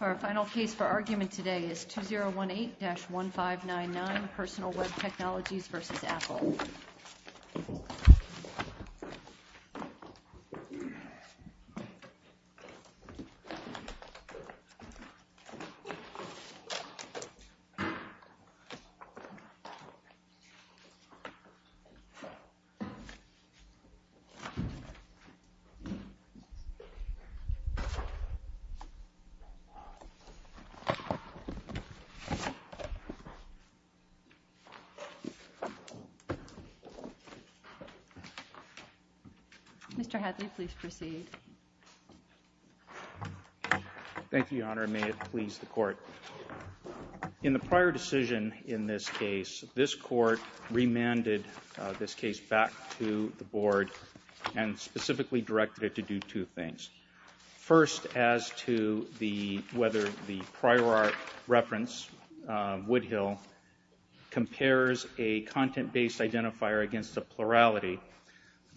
Our final case for argument today is 2018-1599, Personal Web Technologies v. Apple. Mr. Hadley, please proceed. Thank you, Your Honor. In the prior decision in this case, this Court remanded this case back to the Board and specifically directed it to do two things. First, as to whether the prior art reference, Woodhill, compares a content-based identifier against a plurality,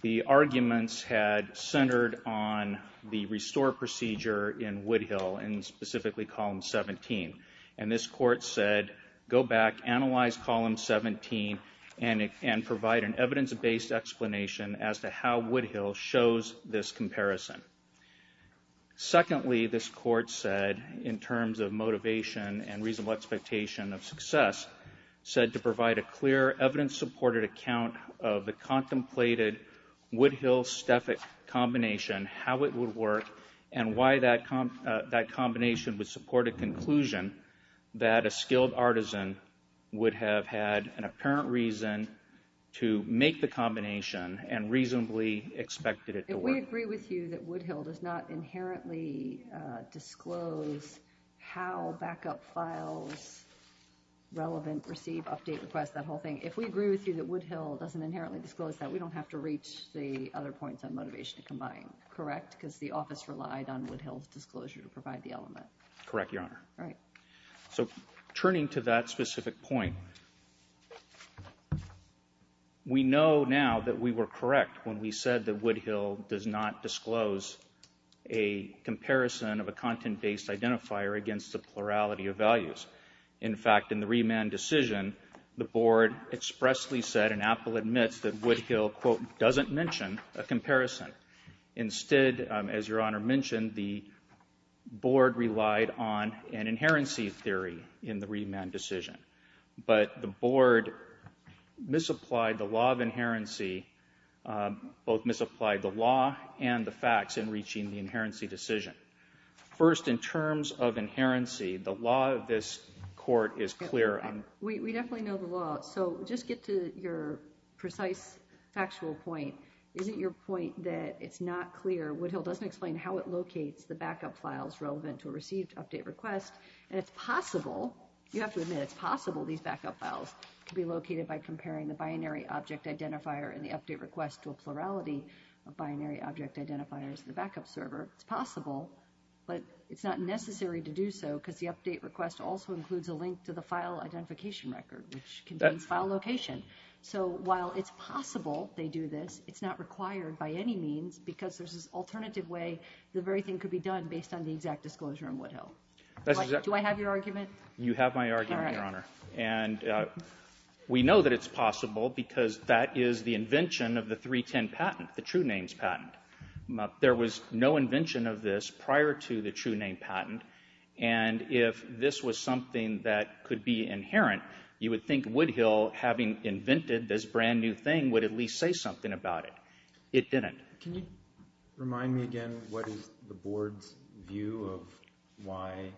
the arguments had centered on the restore procedure in Woodhill, and specifically Column 17. And this Court said, go back, analyze Column 17, and provide an evidence-based explanation as to how Woodhill shows this comparison. Secondly, this Court said, in terms of motivation and reasonable expectation of success, said to provide a clear evidence-supported account of the contemplated Woodhill-Stefik combination, how it would work, and why that combination would support a conclusion that a skilled artisan would have had an apparent reason to make the combination and reasonably expected it to work. If we agree with you that Woodhill does not inherently disclose how backup files relevant, receive, update, request, that whole thing, if we agree with you that Woodhill doesn't inherently disclose that, we don't have to reach the other points on motivation to combine, correct? Because the Office relied on Woodhill's disclosure to provide the element. All right. So turning to that specific point, we know now that we were correct when we said that Woodhill does not disclose a comparison of a content-based identifier against a plurality of values. In fact, in the remand decision, the Board expressly said, and Apple admits, that Woodhill, quote, doesn't mention a comparison. Instead, as Your Honor mentioned, the Board relied on an inherency theory in the remand decision. But the Board misapplied the law of inherency, both misapplied the law and the facts in reaching the inherency decision. First, in terms of inherency, the law of this Court is clear. We definitely know the law. So just get to your precise factual point. Is it your point that it's not clear, Woodhill doesn't explain how it locates the backup files relevant to a received update request? And it's possible, you have to admit, it's possible these backup files could be located by comparing the binary object identifier and the update request to a plurality of binary object identifiers in the backup server. It's possible, but it's not necessary to do so because the update request also includes a link to the file identification record, which contains file location. So while it's possible they do this, it's not required by any means because there's this alternative way the very thing could be done based on the exact disclosure in Woodhill. Do I have your argument? You have my argument, Your Honor. All right. And we know that it's possible because that is the invention of the 310 patent, the True Names patent. There was no invention of this prior to the True Names patent. And if this was something that could be inherent, you would think Woodhill, having invented this brand new thing, would at least say something about it. It didn't. Can you remind me again what is the board's view of why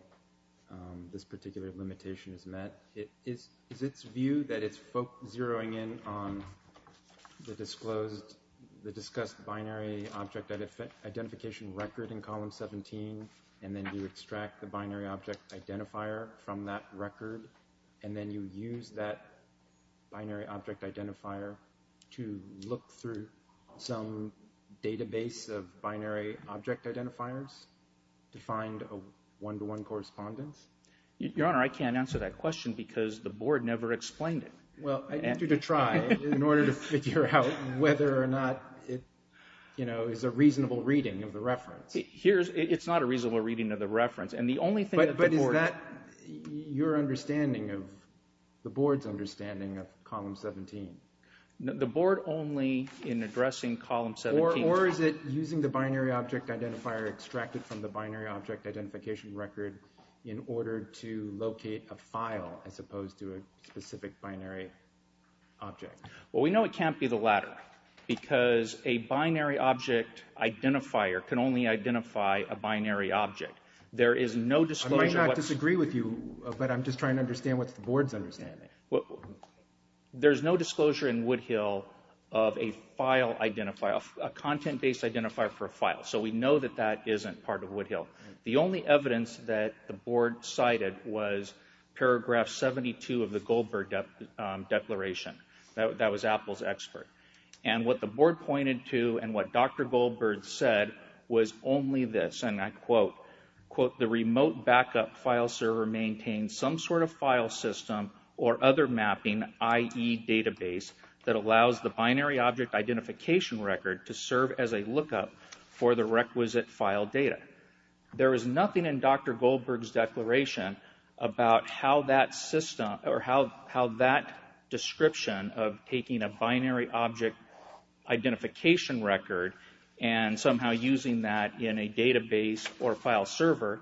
this particular limitation is met? Is its view that it's zeroing in on the disclosed, the discussed binary object identification record in column 17 and then you extract the binary object identifier from that record and then you use that binary object identifier to look through some database of binary object identifiers to find a one-to-one correspondence? Your Honor, I can't answer that question because the board never explained it. Well, I need you to try in order to figure out whether or not it is a reasonable reading of the reference. It's not a reasonable reading of the reference. But is that your understanding of the board's understanding of column 17? The board only in addressing column 17. Or is it using the binary object identifier extracted from the binary object identification record in order to locate a file as opposed to a specific binary object? Well, we know it can't be the latter because a binary object identifier can only identify a binary object. There is no disclosure. I might not disagree with you, but I'm just trying to understand what the board's understanding. There's no disclosure in Woodhill of a file identifier, a content-based identifier for a file. So we know that that isn't part of Woodhill. The only evidence that the board cited was paragraph 72 of the Goldberg Declaration. That was Apple's expert. And what the board pointed to and what Dr. Goldberg said was only this, and I quote, quote, the remote backup file server maintains some sort of file system or other mapping, i.e. database, that allows the binary object identification record to serve as a lookup for the requisite file data. There is nothing in Dr. Goldberg's declaration about how that system, or how that description of taking a binary object identification record and somehow using that in a database or file server,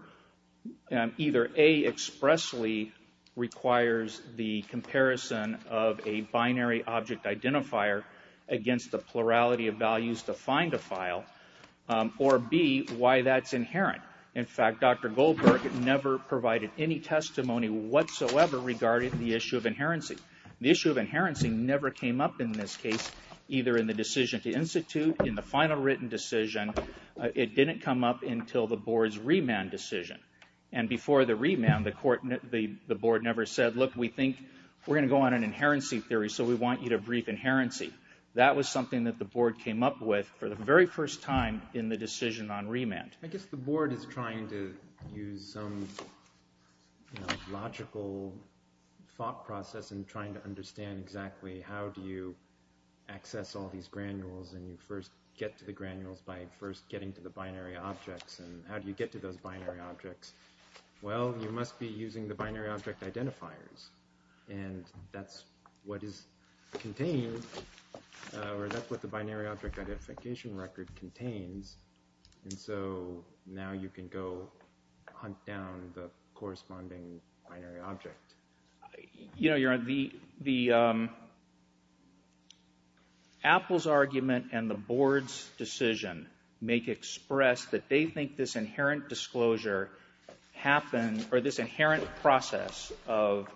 either A, expressly requires the comparison of a binary object identifier against the plurality of values to find a file, or B, why that's inherent. In fact, Dr. Goldberg never provided any testimony whatsoever regarding the issue of inherency. The issue of inherency never came up in this case, either in the decision to institute, in the final written decision. It didn't come up until the board's remand decision. And before the remand, the board never said, look, we think we're going to go on an inherency theory, so we want you to brief inherency. That was something that the board came up with for the very first time in the decision on remand. I guess the board is trying to use some logical thought process in trying to understand exactly how do you access all these granules and you first get to the granules by first getting to the binary objects. And how do you get to those binary objects? Well, you must be using the binary object identifiers. And that's what is contained, or that's what the binary object identification record contains. And so now you can go hunt down the corresponding binary object. You know, the Apple's argument and the board's decision make express that they think this inherent disclosure happens, or this inherent process of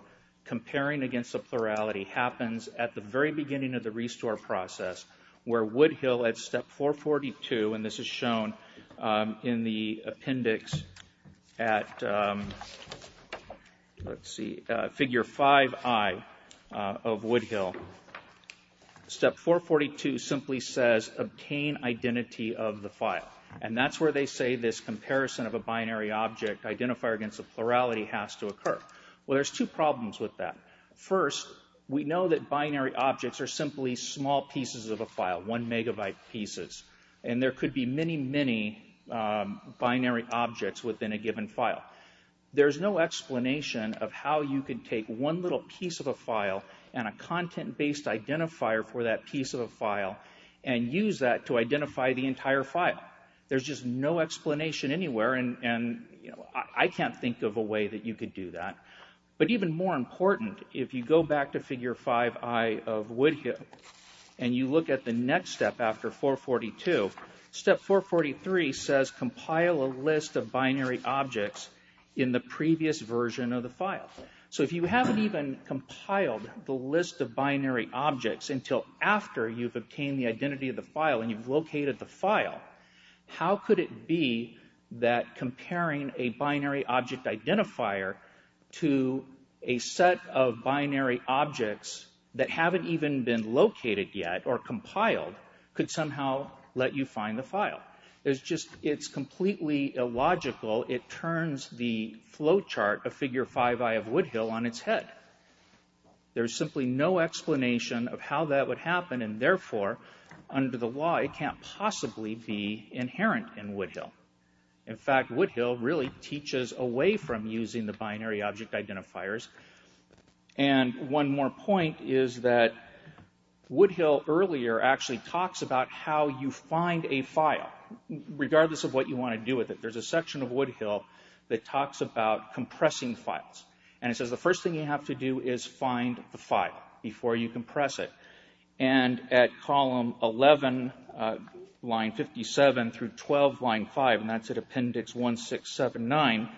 comparing against the plurality happens at the very beginning of the restore process, where Woodhill at step 442, and this is shown in the appendix at, let's see, figure 5i of Woodhill. Step 442 simply says, obtain identity of the file. And that's where they say this comparison of a binary object identifier against the plurality has to occur. Well, there's two problems with that. First, we know that binary objects are simply small pieces of a file, one megabyte pieces. And there could be many, many binary objects within a given file. There's no explanation of how you could take one little piece of a file and a content-based identifier for that piece of a file and use that to identify the entire file. There's just no explanation anywhere, and I can't think of a way that you could do that. But even more important, if you go back to figure 5i of Woodhill and you look at the next step after 442, step 443 says compile a list of binary objects in the previous version of the file. So if you haven't even compiled the list of binary objects until after you've obtained the identity of the file and you've located the file, how could it be that comparing a binary object identifier to a set of binary objects that haven't even been located yet or compiled could somehow let you find the file? It's completely illogical. It turns the flowchart of figure 5i of Woodhill on its head. There's simply no explanation of how that would happen, and therefore, under the law, it can't possibly be inherent in Woodhill. In fact, Woodhill really teaches away from using the binary object identifiers. And one more point is that Woodhill earlier actually talks about how you find a file, regardless of what you want to do with it. There's a section of Woodhill that talks about compressing files, and it says the first thing you have to do is find the file before you compress it. And at column 11, line 57 through 12, line 5, and that's at appendix 1679,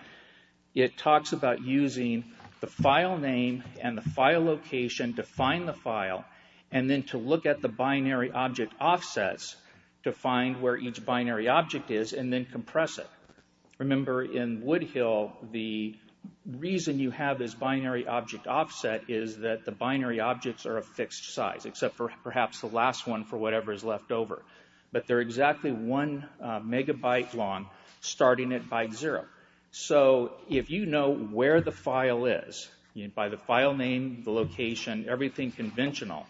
it talks about using the file name and the file location to find the file and then to look at the binary object offsets to find where each binary object is and then compress it. Remember, in Woodhill, the reason you have this binary object offset is that the binary objects are a fixed size, except for perhaps the last one for whatever is left over. But they're exactly one megabyte long, starting at byte zero. So if you know where the file is, by the file name, the location, everything conventional,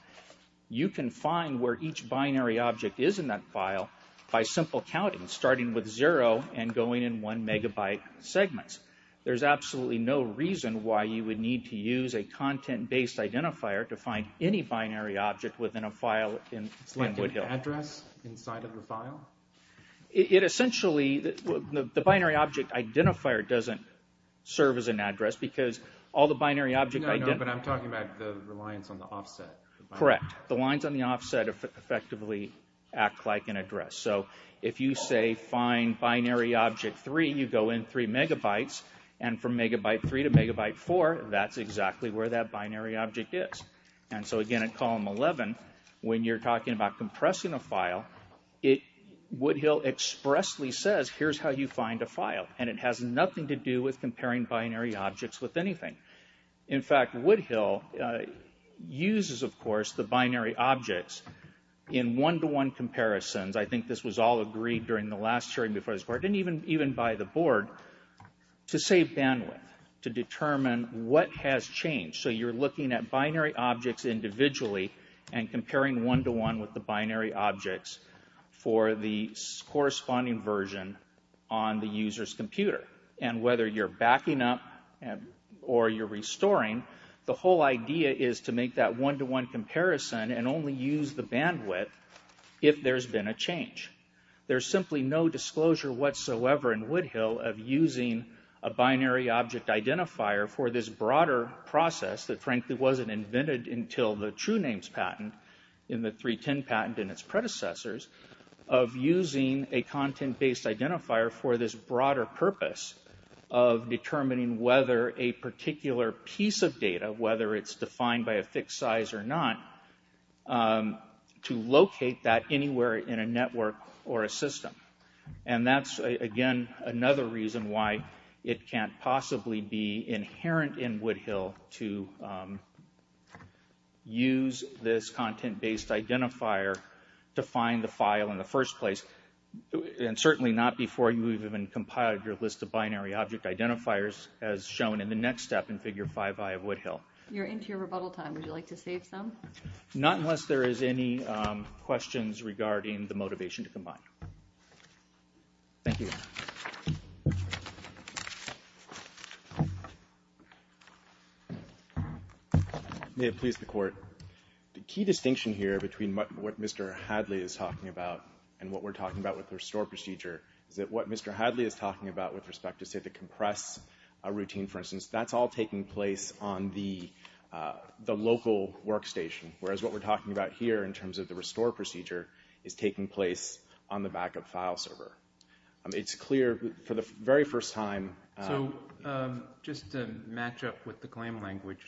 you can find where each binary object is in that file by simple counting, starting with zero and going in one megabyte segments. There's absolutely no reason why you would need to use a content-based identifier to find any binary object within a file in Woodhill. It's like an address inside of the file? Essentially, the binary object identifier doesn't serve as an address because all the binary objects... No, no, but I'm talking about the reliance on the offset. Correct. The lines on the offset effectively act like an address. So if you say find binary object 3, you go in three megabytes, and from megabyte 3 to megabyte 4, that's exactly where that binary object is. And so again, at column 11, when you're talking about compressing a file, Woodhill expressly says, here's how you find a file, and it has nothing to do with comparing binary objects with anything. In fact, Woodhill uses, of course, the binary objects in one-to-one comparisons. I think this was all agreed during the last hearing before this board, and even by the board, to save bandwidth, to determine what has changed. So you're looking at binary objects individually, and comparing one-to-one with the binary objects for the corresponding version on the user's computer. And whether you're backing up or you're restoring, the whole idea is to make that one-to-one comparison and only use the bandwidth if there's been a change. There's simply no disclosure whatsoever in Woodhill of using a binary object identifier for this broader process that frankly wasn't invented until the TrueNames patent, in the 3.10 patent and its predecessors, of using a content-based identifier for this broader purpose of determining whether a particular piece of data, whether it's defined by a fixed size or not, to locate that anywhere in a network or a system. And that's, again, another reason why it can't possibly be inherent in Woodhill to use this content-based identifier to find the file in the first place, and certainly not before you've even compiled your list of binary object identifiers as shown in the next step in Figure 5i of Woodhill. You're into your rebuttal time. Would you like to save some? Not unless there is any questions regarding the motivation to combine. Thank you. May it please the Court. The key distinction here between what Mr. Hadley is talking about and what we're talking about with the restore procedure is that what Mr. Hadley is talking about with respect to, say, the compress routine, for instance, that's all taking place on the local workstation, whereas what we're talking about here in terms of the restore procedure is taking place on the backup file server. It's clear for the very first time... So just to match up with the claim language,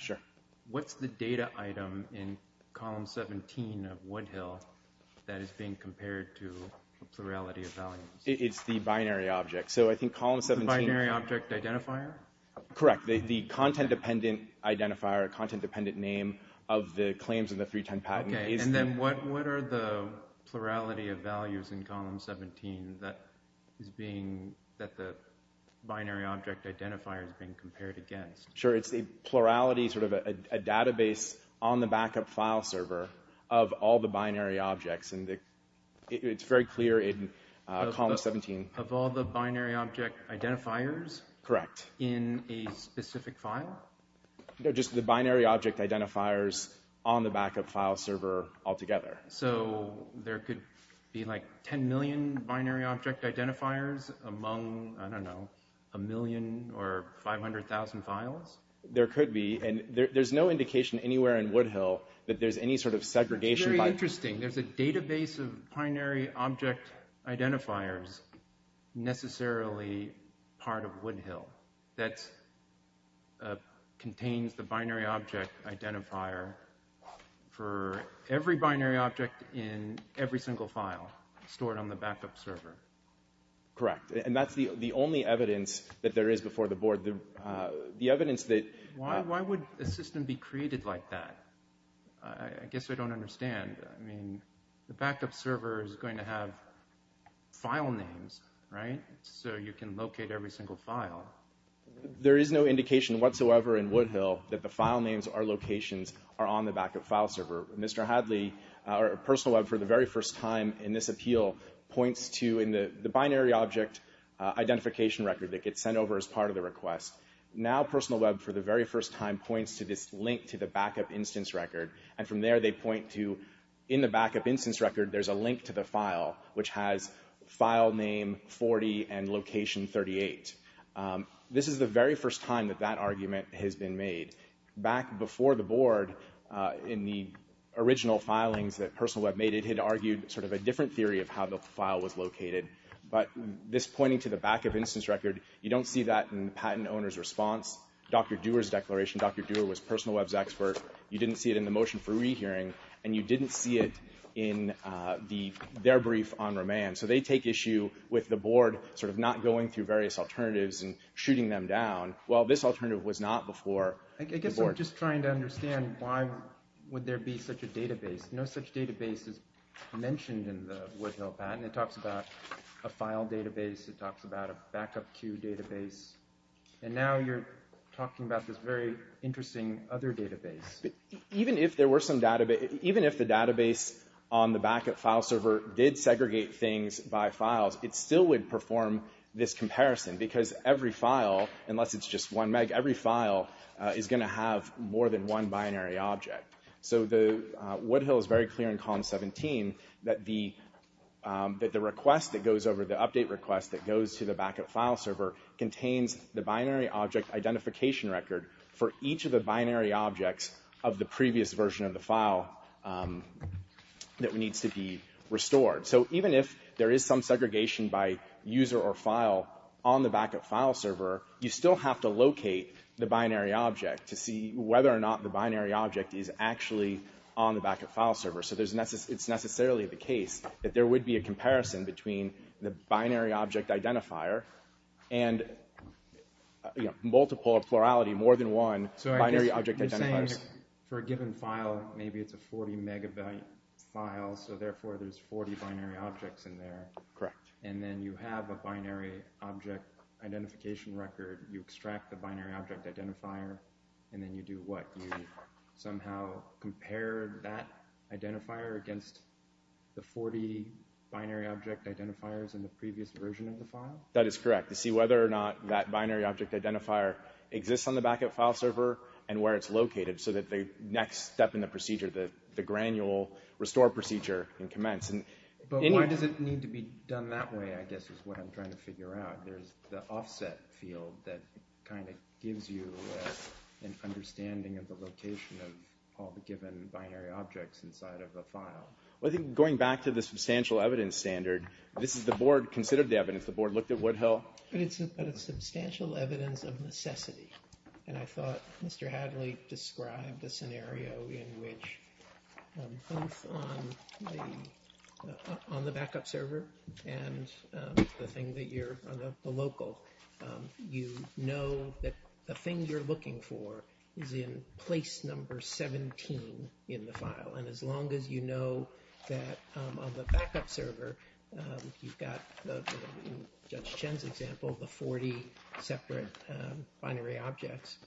what's the data item in column 17 of Woodhill that is being compared to a plurality of values? It's the binary object. So I think column 17... Correct. The content-dependent identifier, content-dependent name of the claims in the 310 patent is... Okay. And then what are the plurality of values in column 17 that the binary object identifier is being compared against? Sure. It's a plurality, sort of a database on the backup file server of all the binary objects, and it's very clear in column 17. Of all the binary object identifiers? Correct. In a specific file? No, just the binary object identifiers on the backup file server altogether. So there could be, like, 10 million binary object identifiers among, I don't know, a million or 500,000 files? There could be, and there's no indication anywhere in Woodhill that there's any sort of segregation by... It's very interesting. There's a database of binary object identifiers necessarily part of Woodhill that contains the binary object identifier for every binary object in every single file stored on the backup server. Correct. And that's the only evidence that there is before the board. The evidence that... Why would a system be created like that? I guess I don't understand. I mean, the backup server is going to have file names, right? So you can locate every single file. There is no indication whatsoever in Woodhill that the file names or locations are on the backup file server. Mr. Hadley, or Personal Web, for the very first time in this appeal, points to the binary object identification record that gets sent over as part of the request. Now Personal Web, for the very first time, points to this link to the backup instance record, and from there they point to, in the backup instance record, there's a link to the file, which has file name 40 and location 38. This is the very first time that that argument has been made. Back before the board, in the original filings that Personal Web made, it had argued sort of a different theory of how the file was located. But this pointing to the backup instance record, you don't see that in the patent owner's response. Dr. Dewar's declaration, Dr. Dewar was Personal Web's expert. You didn't see it in the motion for rehearing, and you didn't see it in their brief on remand. So they take issue with the board sort of not going through various alternatives and shooting them down. Well, this alternative was not before the board. I guess I'm just trying to understand why would there be such a database. No such database is mentioned in the Woodhill patent. It talks about a file database. It talks about a backup queue database. And now you're talking about this very interesting other database. Even if the database on the backup file server did segregate things by files, it still would perform this comparison, because every file, unless it's just one meg, every file is going to have more than one binary object. So Woodhill is very clear in column 17 that the request that goes over, the update request that goes to the backup file server, contains the binary object identification record for each of the binary objects of the previous version of the file that needs to be restored. So even if there is some segregation by user or file on the backup file server, you still have to locate the binary object to see whether or not the binary object is actually on the backup file server. So it's necessarily the case that there would be a comparison between the binary object identifier and multiple, plurality, more than one binary object identifier. So you're saying for a given file, maybe it's a 40 megabyte file, so therefore there's 40 binary objects in there. Correct. And then you have a binary object identification record. You extract the binary object identifier, and then you do what? You somehow compare that identifier against the 40 binary object identifiers in the previous version of the file? That is correct. To see whether or not that binary object identifier exists on the backup file server and where it's located so that the next step in the procedure, the granule restore procedure can commence. But why does it need to be done that way, I guess, is what I'm trying to figure out. There's the offset field that kind of gives you an understanding of the location of all the given binary objects inside of a file. Well, I think going back to the substantial evidence standard, this is the board considered the evidence. The board looked at Woodhill. But it's a substantial evidence of necessity, and I thought Mr. Hadley described a scenario in which both on the backup server and the local you know that the thing you're looking for is in place number 17 in the file. And as long as you know that on the backup server you've got, in Judge Chen's example, the 40 separate binary objects,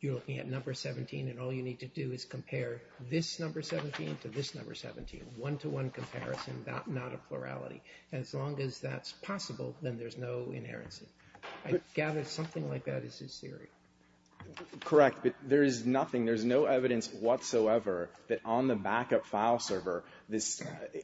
you're looking at number 17, and all you need to do is compare this number 17 to this number 17. One-to-one comparison, not a plurality. As long as that's possible, then there's no inerrancy. I gather something like that is his theory. Correct, but there is nothing. There's no evidence whatsoever that on the backup file server,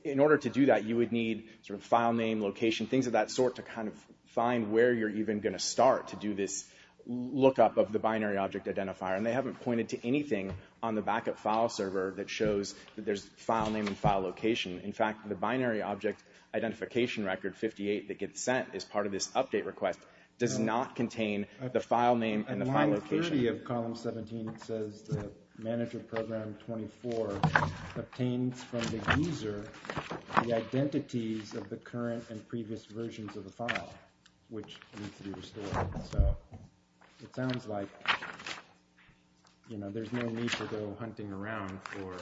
in order to do that you would need sort of file name, location, things of that sort to kind of find where you're even going to start to do this lookup of the binary object identifier. And they haven't pointed to anything on the backup file server that shows that there's file name and file location. In fact, the binary object identification record 58 that gets sent as part of this update request does not contain the file name and the file location. On line 30 of column 17 it says the manager program 24 obtains from the user the identities of the current and previous versions of the file, which needs to be restored. So it sounds like there's no need to go hunting around for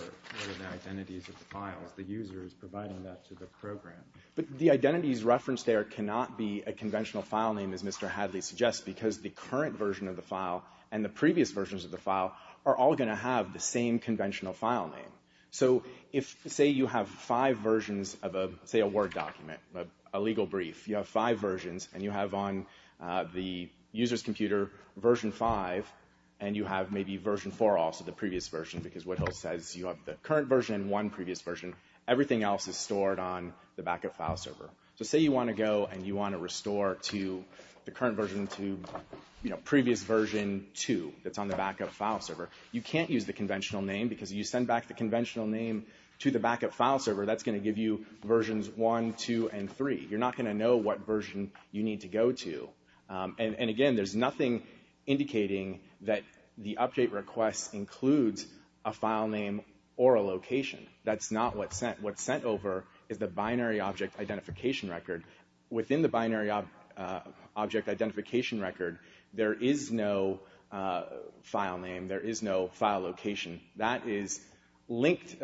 the identities of the files. The user is providing that to the program. But the identities referenced there cannot be a conventional file name, as Mr. Hadley suggests, because the current version of the file and the previous versions of the file are all going to have the same conventional file name. So say you have five versions of, say, a Word document, a legal brief. If you have five versions and you have on the user's computer version 5 and you have maybe version 4 also, the previous version, because Whittle says you have the current version and one previous version, everything else is stored on the backup file server. So say you want to go and you want to restore the current version to previous version 2 that's on the backup file server. You can't use the conventional name, because if you send back the conventional name to the backup file server, that's going to give you versions 1, 2, and 3. You're not going to know what version you need to go to. And again, there's nothing indicating that the update request includes a file name or a location. That's not what's sent. What's sent over is the binary object identification record. Within the binary object identification record, there is no file name. There is no file location. That is linked.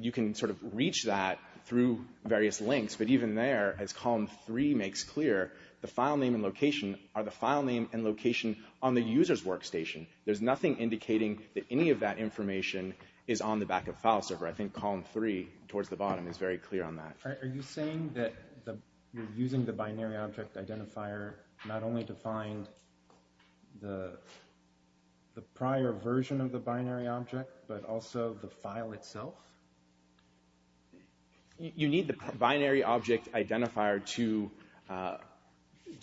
You can sort of reach that through various links, but even there, as column 3 makes clear, the file name and location are the file name and location on the user's workstation. There's nothing indicating that any of that information is on the backup file server. I think column 3, towards the bottom, is very clear on that. Are you saying that you're using the binary object identifier not only to find the prior version of the binary object, but also the file itself? You need the binary object identifier to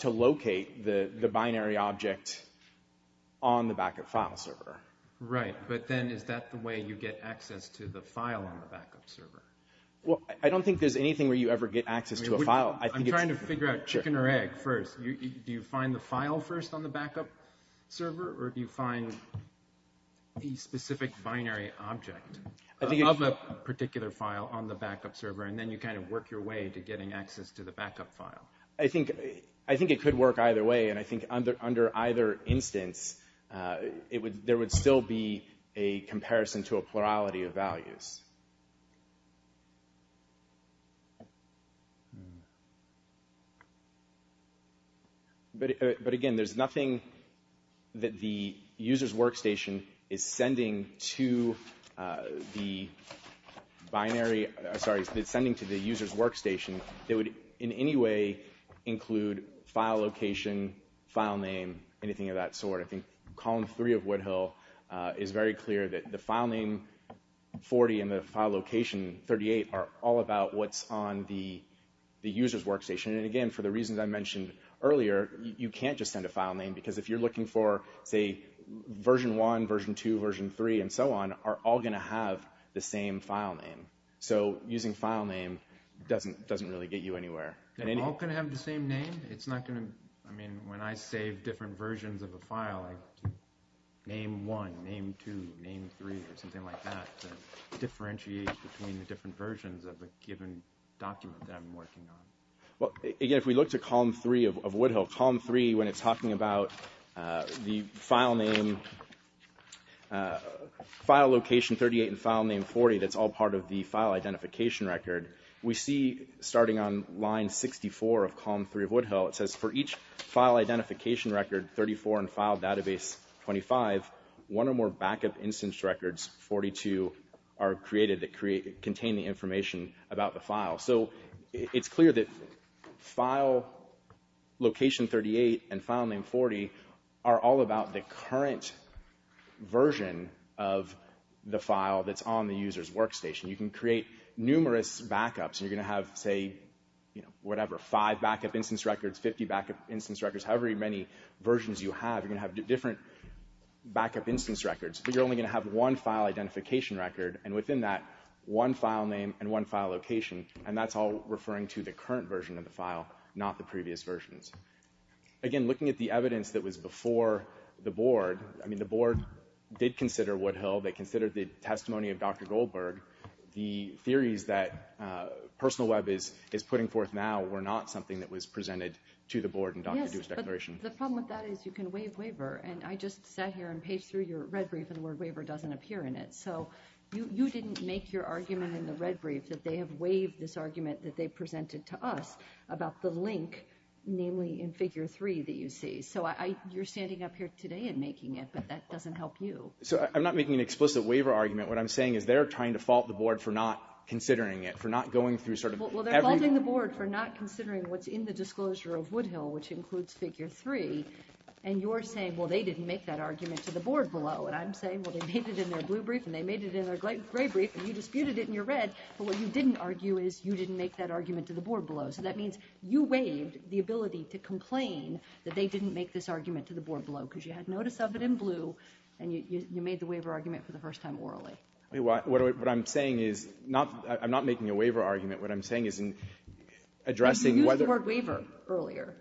locate the binary object on the backup file server. Right, but then is that the way you get access to the file on the backup server? Well, I don't think there's anything where you ever get access to a file. I'm trying to figure out chicken or egg first. Do you find the file first on the backup server, or do you find a specific binary object of a particular file on the backup server, and then you kind of work your way to getting access to the backup file? I think it could work either way, and I think under either instance, there would still be a comparison to a plurality of values. But again, there's nothing that the user's workstation is sending to the user's workstation that would in any way include file location, file name, anything of that sort. I think column 3 of Woodhill is very clear that the file name 40 and the file location 38 are all about what's on the user's workstation. And again, for the reasons I mentioned earlier, you can't just send a file name, because if you're looking for, say, version 1, version 2, version 3, and so on, are all going to have the same file name. So using file name doesn't really get you anywhere. They're all going to have the same name? I mean, when I save different versions of a file, like name 1, name 2, name 3, or something like that, to differentiate between the different versions of a given document that I'm working on. Well, again, if we look to column 3 of Woodhill, column 3, when it's talking about the file name, file location 38 and file name 40 that's all part of the file identification record, we see, starting on line 64 of column 3 of Woodhill, it says, for each file identification record, 34, and file database 25, one or more backup instance records, 42, are created that contain the information about the file. So it's clear that file location 38 and file name 40 are all about the current version of the file that's on the user's workstation. You can create numerous backups. You're going to have, say, whatever, five backup instance records, 50 backup instance records, however many versions you have. You're going to have different backup instance records, but you're only going to have one file identification record, and within that, one file name and one file location, and that's all referring to the current version of the file, not the previous versions. Again, looking at the evidence that was before the board, I mean, the board did consider Woodhill. They considered the testimony of Dr. Goldberg. The theories that Personal Web is putting forth now were not something that was presented to the board in Dr. Dew's declaration. Yes, but the problem with that is you can waive waiver, and I just sat here and paged through your red brief, and the word waiver doesn't appear in it. So you didn't make your argument in the red brief that they have waived this argument that they presented to us about the link, namely in figure 3, that you see. So you're standing up here today and making it, but that doesn't help you. So I'm not making an explicit waiver argument. What I'm saying is they're trying to fault the board for not considering it, for not going through sort of every— Well, they're faulting the board for not considering what's in the disclosure of Woodhill, which includes figure 3, and you're saying, well, they didn't make that argument to the board below, and I'm saying, well, they made it in their blue brief, and they made it in their gray brief, and you disputed it in your red, but what you didn't argue is you didn't make that argument to the board below. So that means you waived the ability to complain that they didn't make this argument to the board below because you had notice of it in blue, and you made the waiver argument for the first time orally. What I'm saying is—I'm not making a waiver argument. What I'm saying is in addressing whether— But you used the word waiver earlier.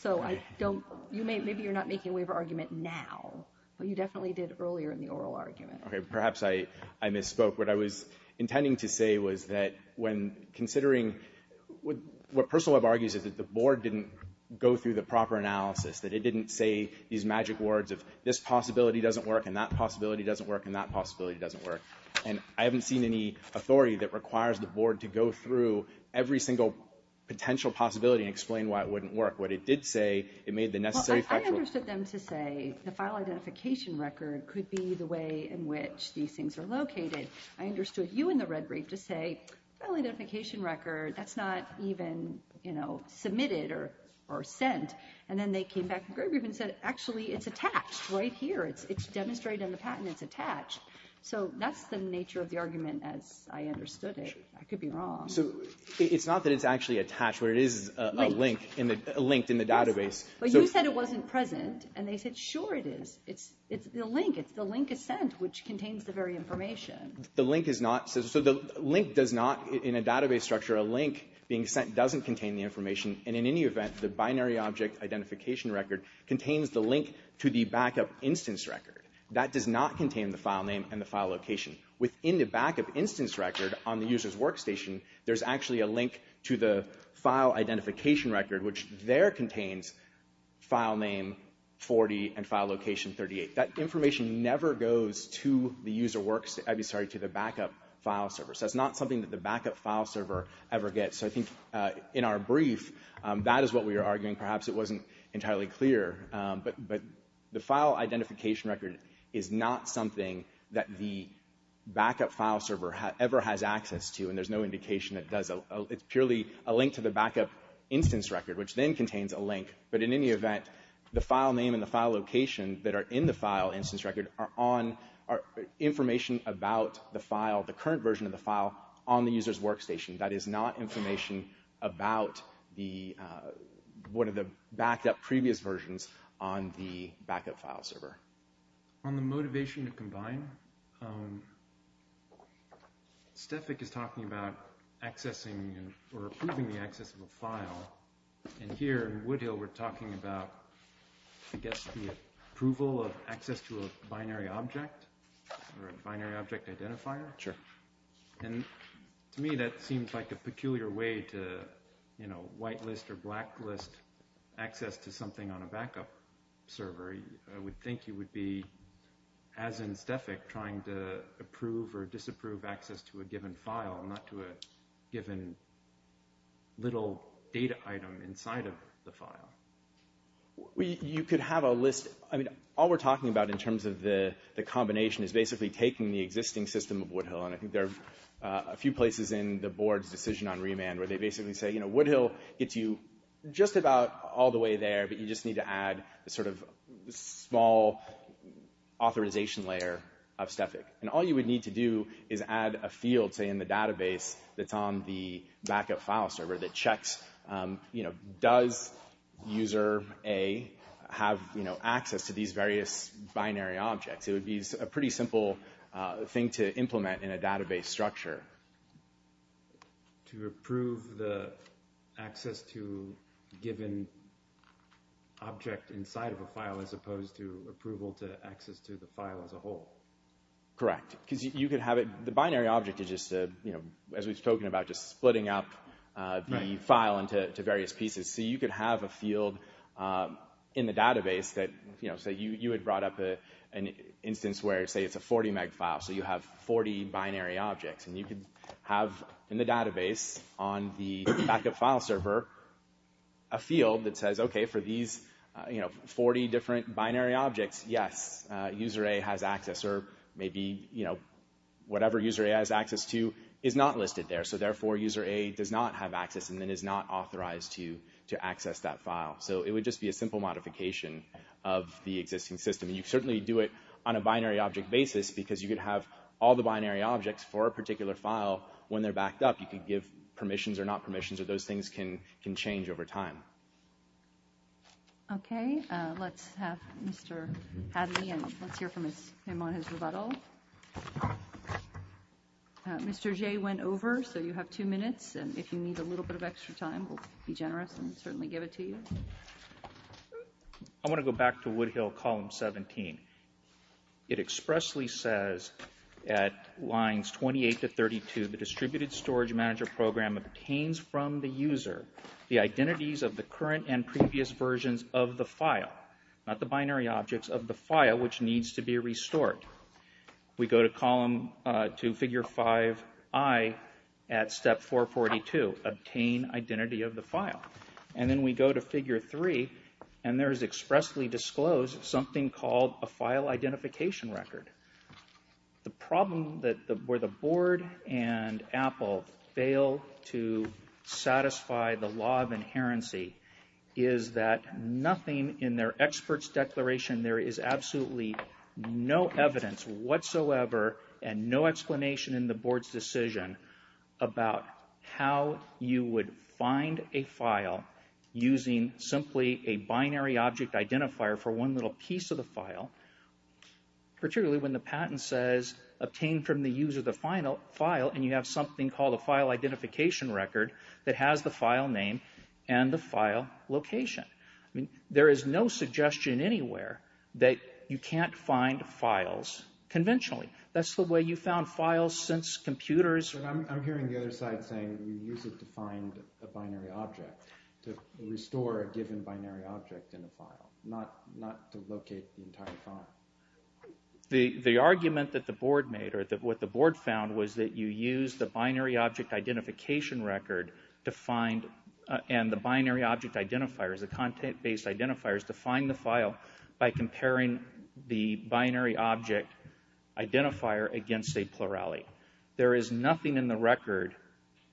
So I don't—maybe you're not making a waiver argument now, but you definitely did earlier in the oral argument. Okay, perhaps I misspoke. What I was intending to say was that when considering— what Personal Web argues is that the board didn't go through the proper analysis, that it didn't say these magic words of this possibility doesn't work, and that possibility doesn't work, and that possibility doesn't work. And I haven't seen any authority that requires the board to go through every single potential possibility and explain why it wouldn't work. What it did say, it made the necessary factual— Well, I understood them to say the file identification record could be the way in which these things are located. I understood you in the red brief to say file identification record, that's not even, you know, submitted or sent. And then they came back in the gray brief and said, actually, it's attached right here. It's demonstrated in the patent it's attached. So that's the nature of the argument as I understood it. I could be wrong. So it's not that it's actually attached, but it is a link in the—linked in the database. But you said it wasn't present, and they said, sure it is. It's the link. It's the link is sent, which contains the very information. The link is not—so the link does not, in a database structure, a link being sent doesn't contain the information. And in any event, the binary object identification record contains the link to the backup instance record. That does not contain the file name and the file location. Within the backup instance record on the user's workstation, there's actually a link to the file identification record, which there contains file name 40 and file location 38. That information never goes to the user works—I'm sorry, to the backup file server. So that's not something that the backup file server ever gets. So I think in our brief, that is what we were arguing. Perhaps it wasn't entirely clear. But the file identification record is not something that the backup file server ever has access to, and there's no indication it does—it's purely a link to the backup instance record, which then contains a link. But in any event, the file name and the file location that are in the file instance record are on— are information about the file, the current version of the file, on the user's workstation. That is not information about one of the backup previous versions on the backup file server. On the motivation to combine, Stefik is talking about accessing or approving the access of a file, and here in Woodhill we're talking about, I guess, the approval of access to a binary object or a binary object identifier. Sure. And to me that seems like a peculiar way to, you know, whitelist or blacklist access to something on a backup server. I would think you would be, as in Stefik, trying to approve or disapprove access to a given file, not to a given little data item inside of the file. You could have a list—I mean, all we're talking about in terms of the combination is basically taking the existing system of Woodhill, and I think there are a few places in the board's decision on remand where they basically say, you know, Woodhill gets you just about all the way there, but you just need to add a sort of small authorization layer of Stefik. And all you would need to do is add a field, say, in the database that's on the backup file server that checks, you know, does user A have, you know, access to these various binary objects. It would be a pretty simple thing to implement in a database structure. To approve the access to a given object inside of a file as opposed to approval to access to the file as a whole. Correct. Because you could have it—the binary object is just, you know, as we've spoken about, just splitting up the file into various pieces. So you could have a field in the database that, you know, say you had brought up an instance where, say, it's a 40 meg file, so you have 40 binary objects. And you could have in the database on the backup file server a field that says, okay, for these, you know, 40 different binary objects, yes, user A has access, or maybe, you know, whatever user A has access to is not listed there. So therefore, user A does not have access and then is not authorized to access that file. So it would just be a simple modification of the existing system. And you certainly do it on a binary object basis because you could have all the binary objects for a particular file when they're backed up. You could give permissions or not permissions, or those things can change over time. Okay. Let's have Mr. Hadley, and let's hear from him on his rebuttal. Okay. Mr. Jay went over, so you have two minutes. And if you need a little bit of extra time, we'll be generous and certainly give it to you. I want to go back to Woodhill Column 17. It expressly says at lines 28 to 32, the Distributed Storage Manager Program obtains from the user the identities of the current and previous versions of the file, not the binary objects of the file, which needs to be restored. We go to figure 5i at step 442, obtain identity of the file. And then we go to figure 3, and there is expressly disclosed something called a file identification record. The problem where the board and Apple fail to satisfy the law of inherency is that nothing in their experts' declaration, there is absolutely no evidence whatsoever and no explanation in the board's decision about how you would find a file using simply a binary object identifier for one little piece of the file, particularly when the patent says obtain from the user the final file and you have something called a file identification record that has the file name and the file location. I mean, there is no suggestion anywhere that you can't find files conventionally. That's the way you found files since computers... I'm hearing the other side saying you use it to find a binary object, to restore a given binary object in a file, not to locate the entire file. The argument that the board made, or what the board found, was that you use the binary object identification record to find, and the binary object identifiers, the content-based identifiers, to find the file by comparing the binary object identifier against a plurality. There is nothing in the record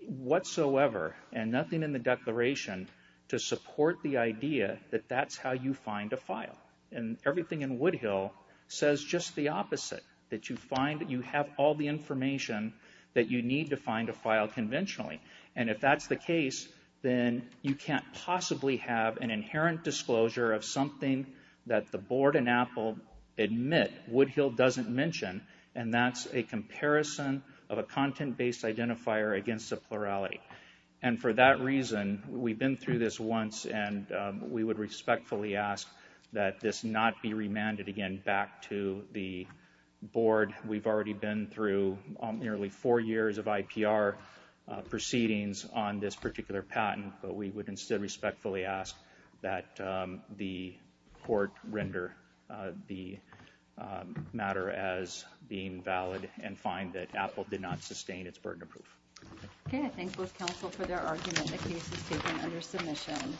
whatsoever and nothing in the declaration to support the idea that that's how you find a file. And everything in Woodhill says just the opposite, that you have all the information that you need to find a file conventionally. And if that's the case, then you can't possibly have an inherent disclosure of something that the board in Apple admit Woodhill doesn't mention, and that's a comparison of a content-based identifier against a plurality. And for that reason, we've been through this once, and we would respectfully ask that this not be remanded again back to the board. We've already been through nearly four years of IPR proceedings on this particular patent, but we would instead respectfully ask that the court render the matter as being valid and find that Apple did not sustain its burden of proof. Okay, I thank both counsel for their argument. The case is taken under submission.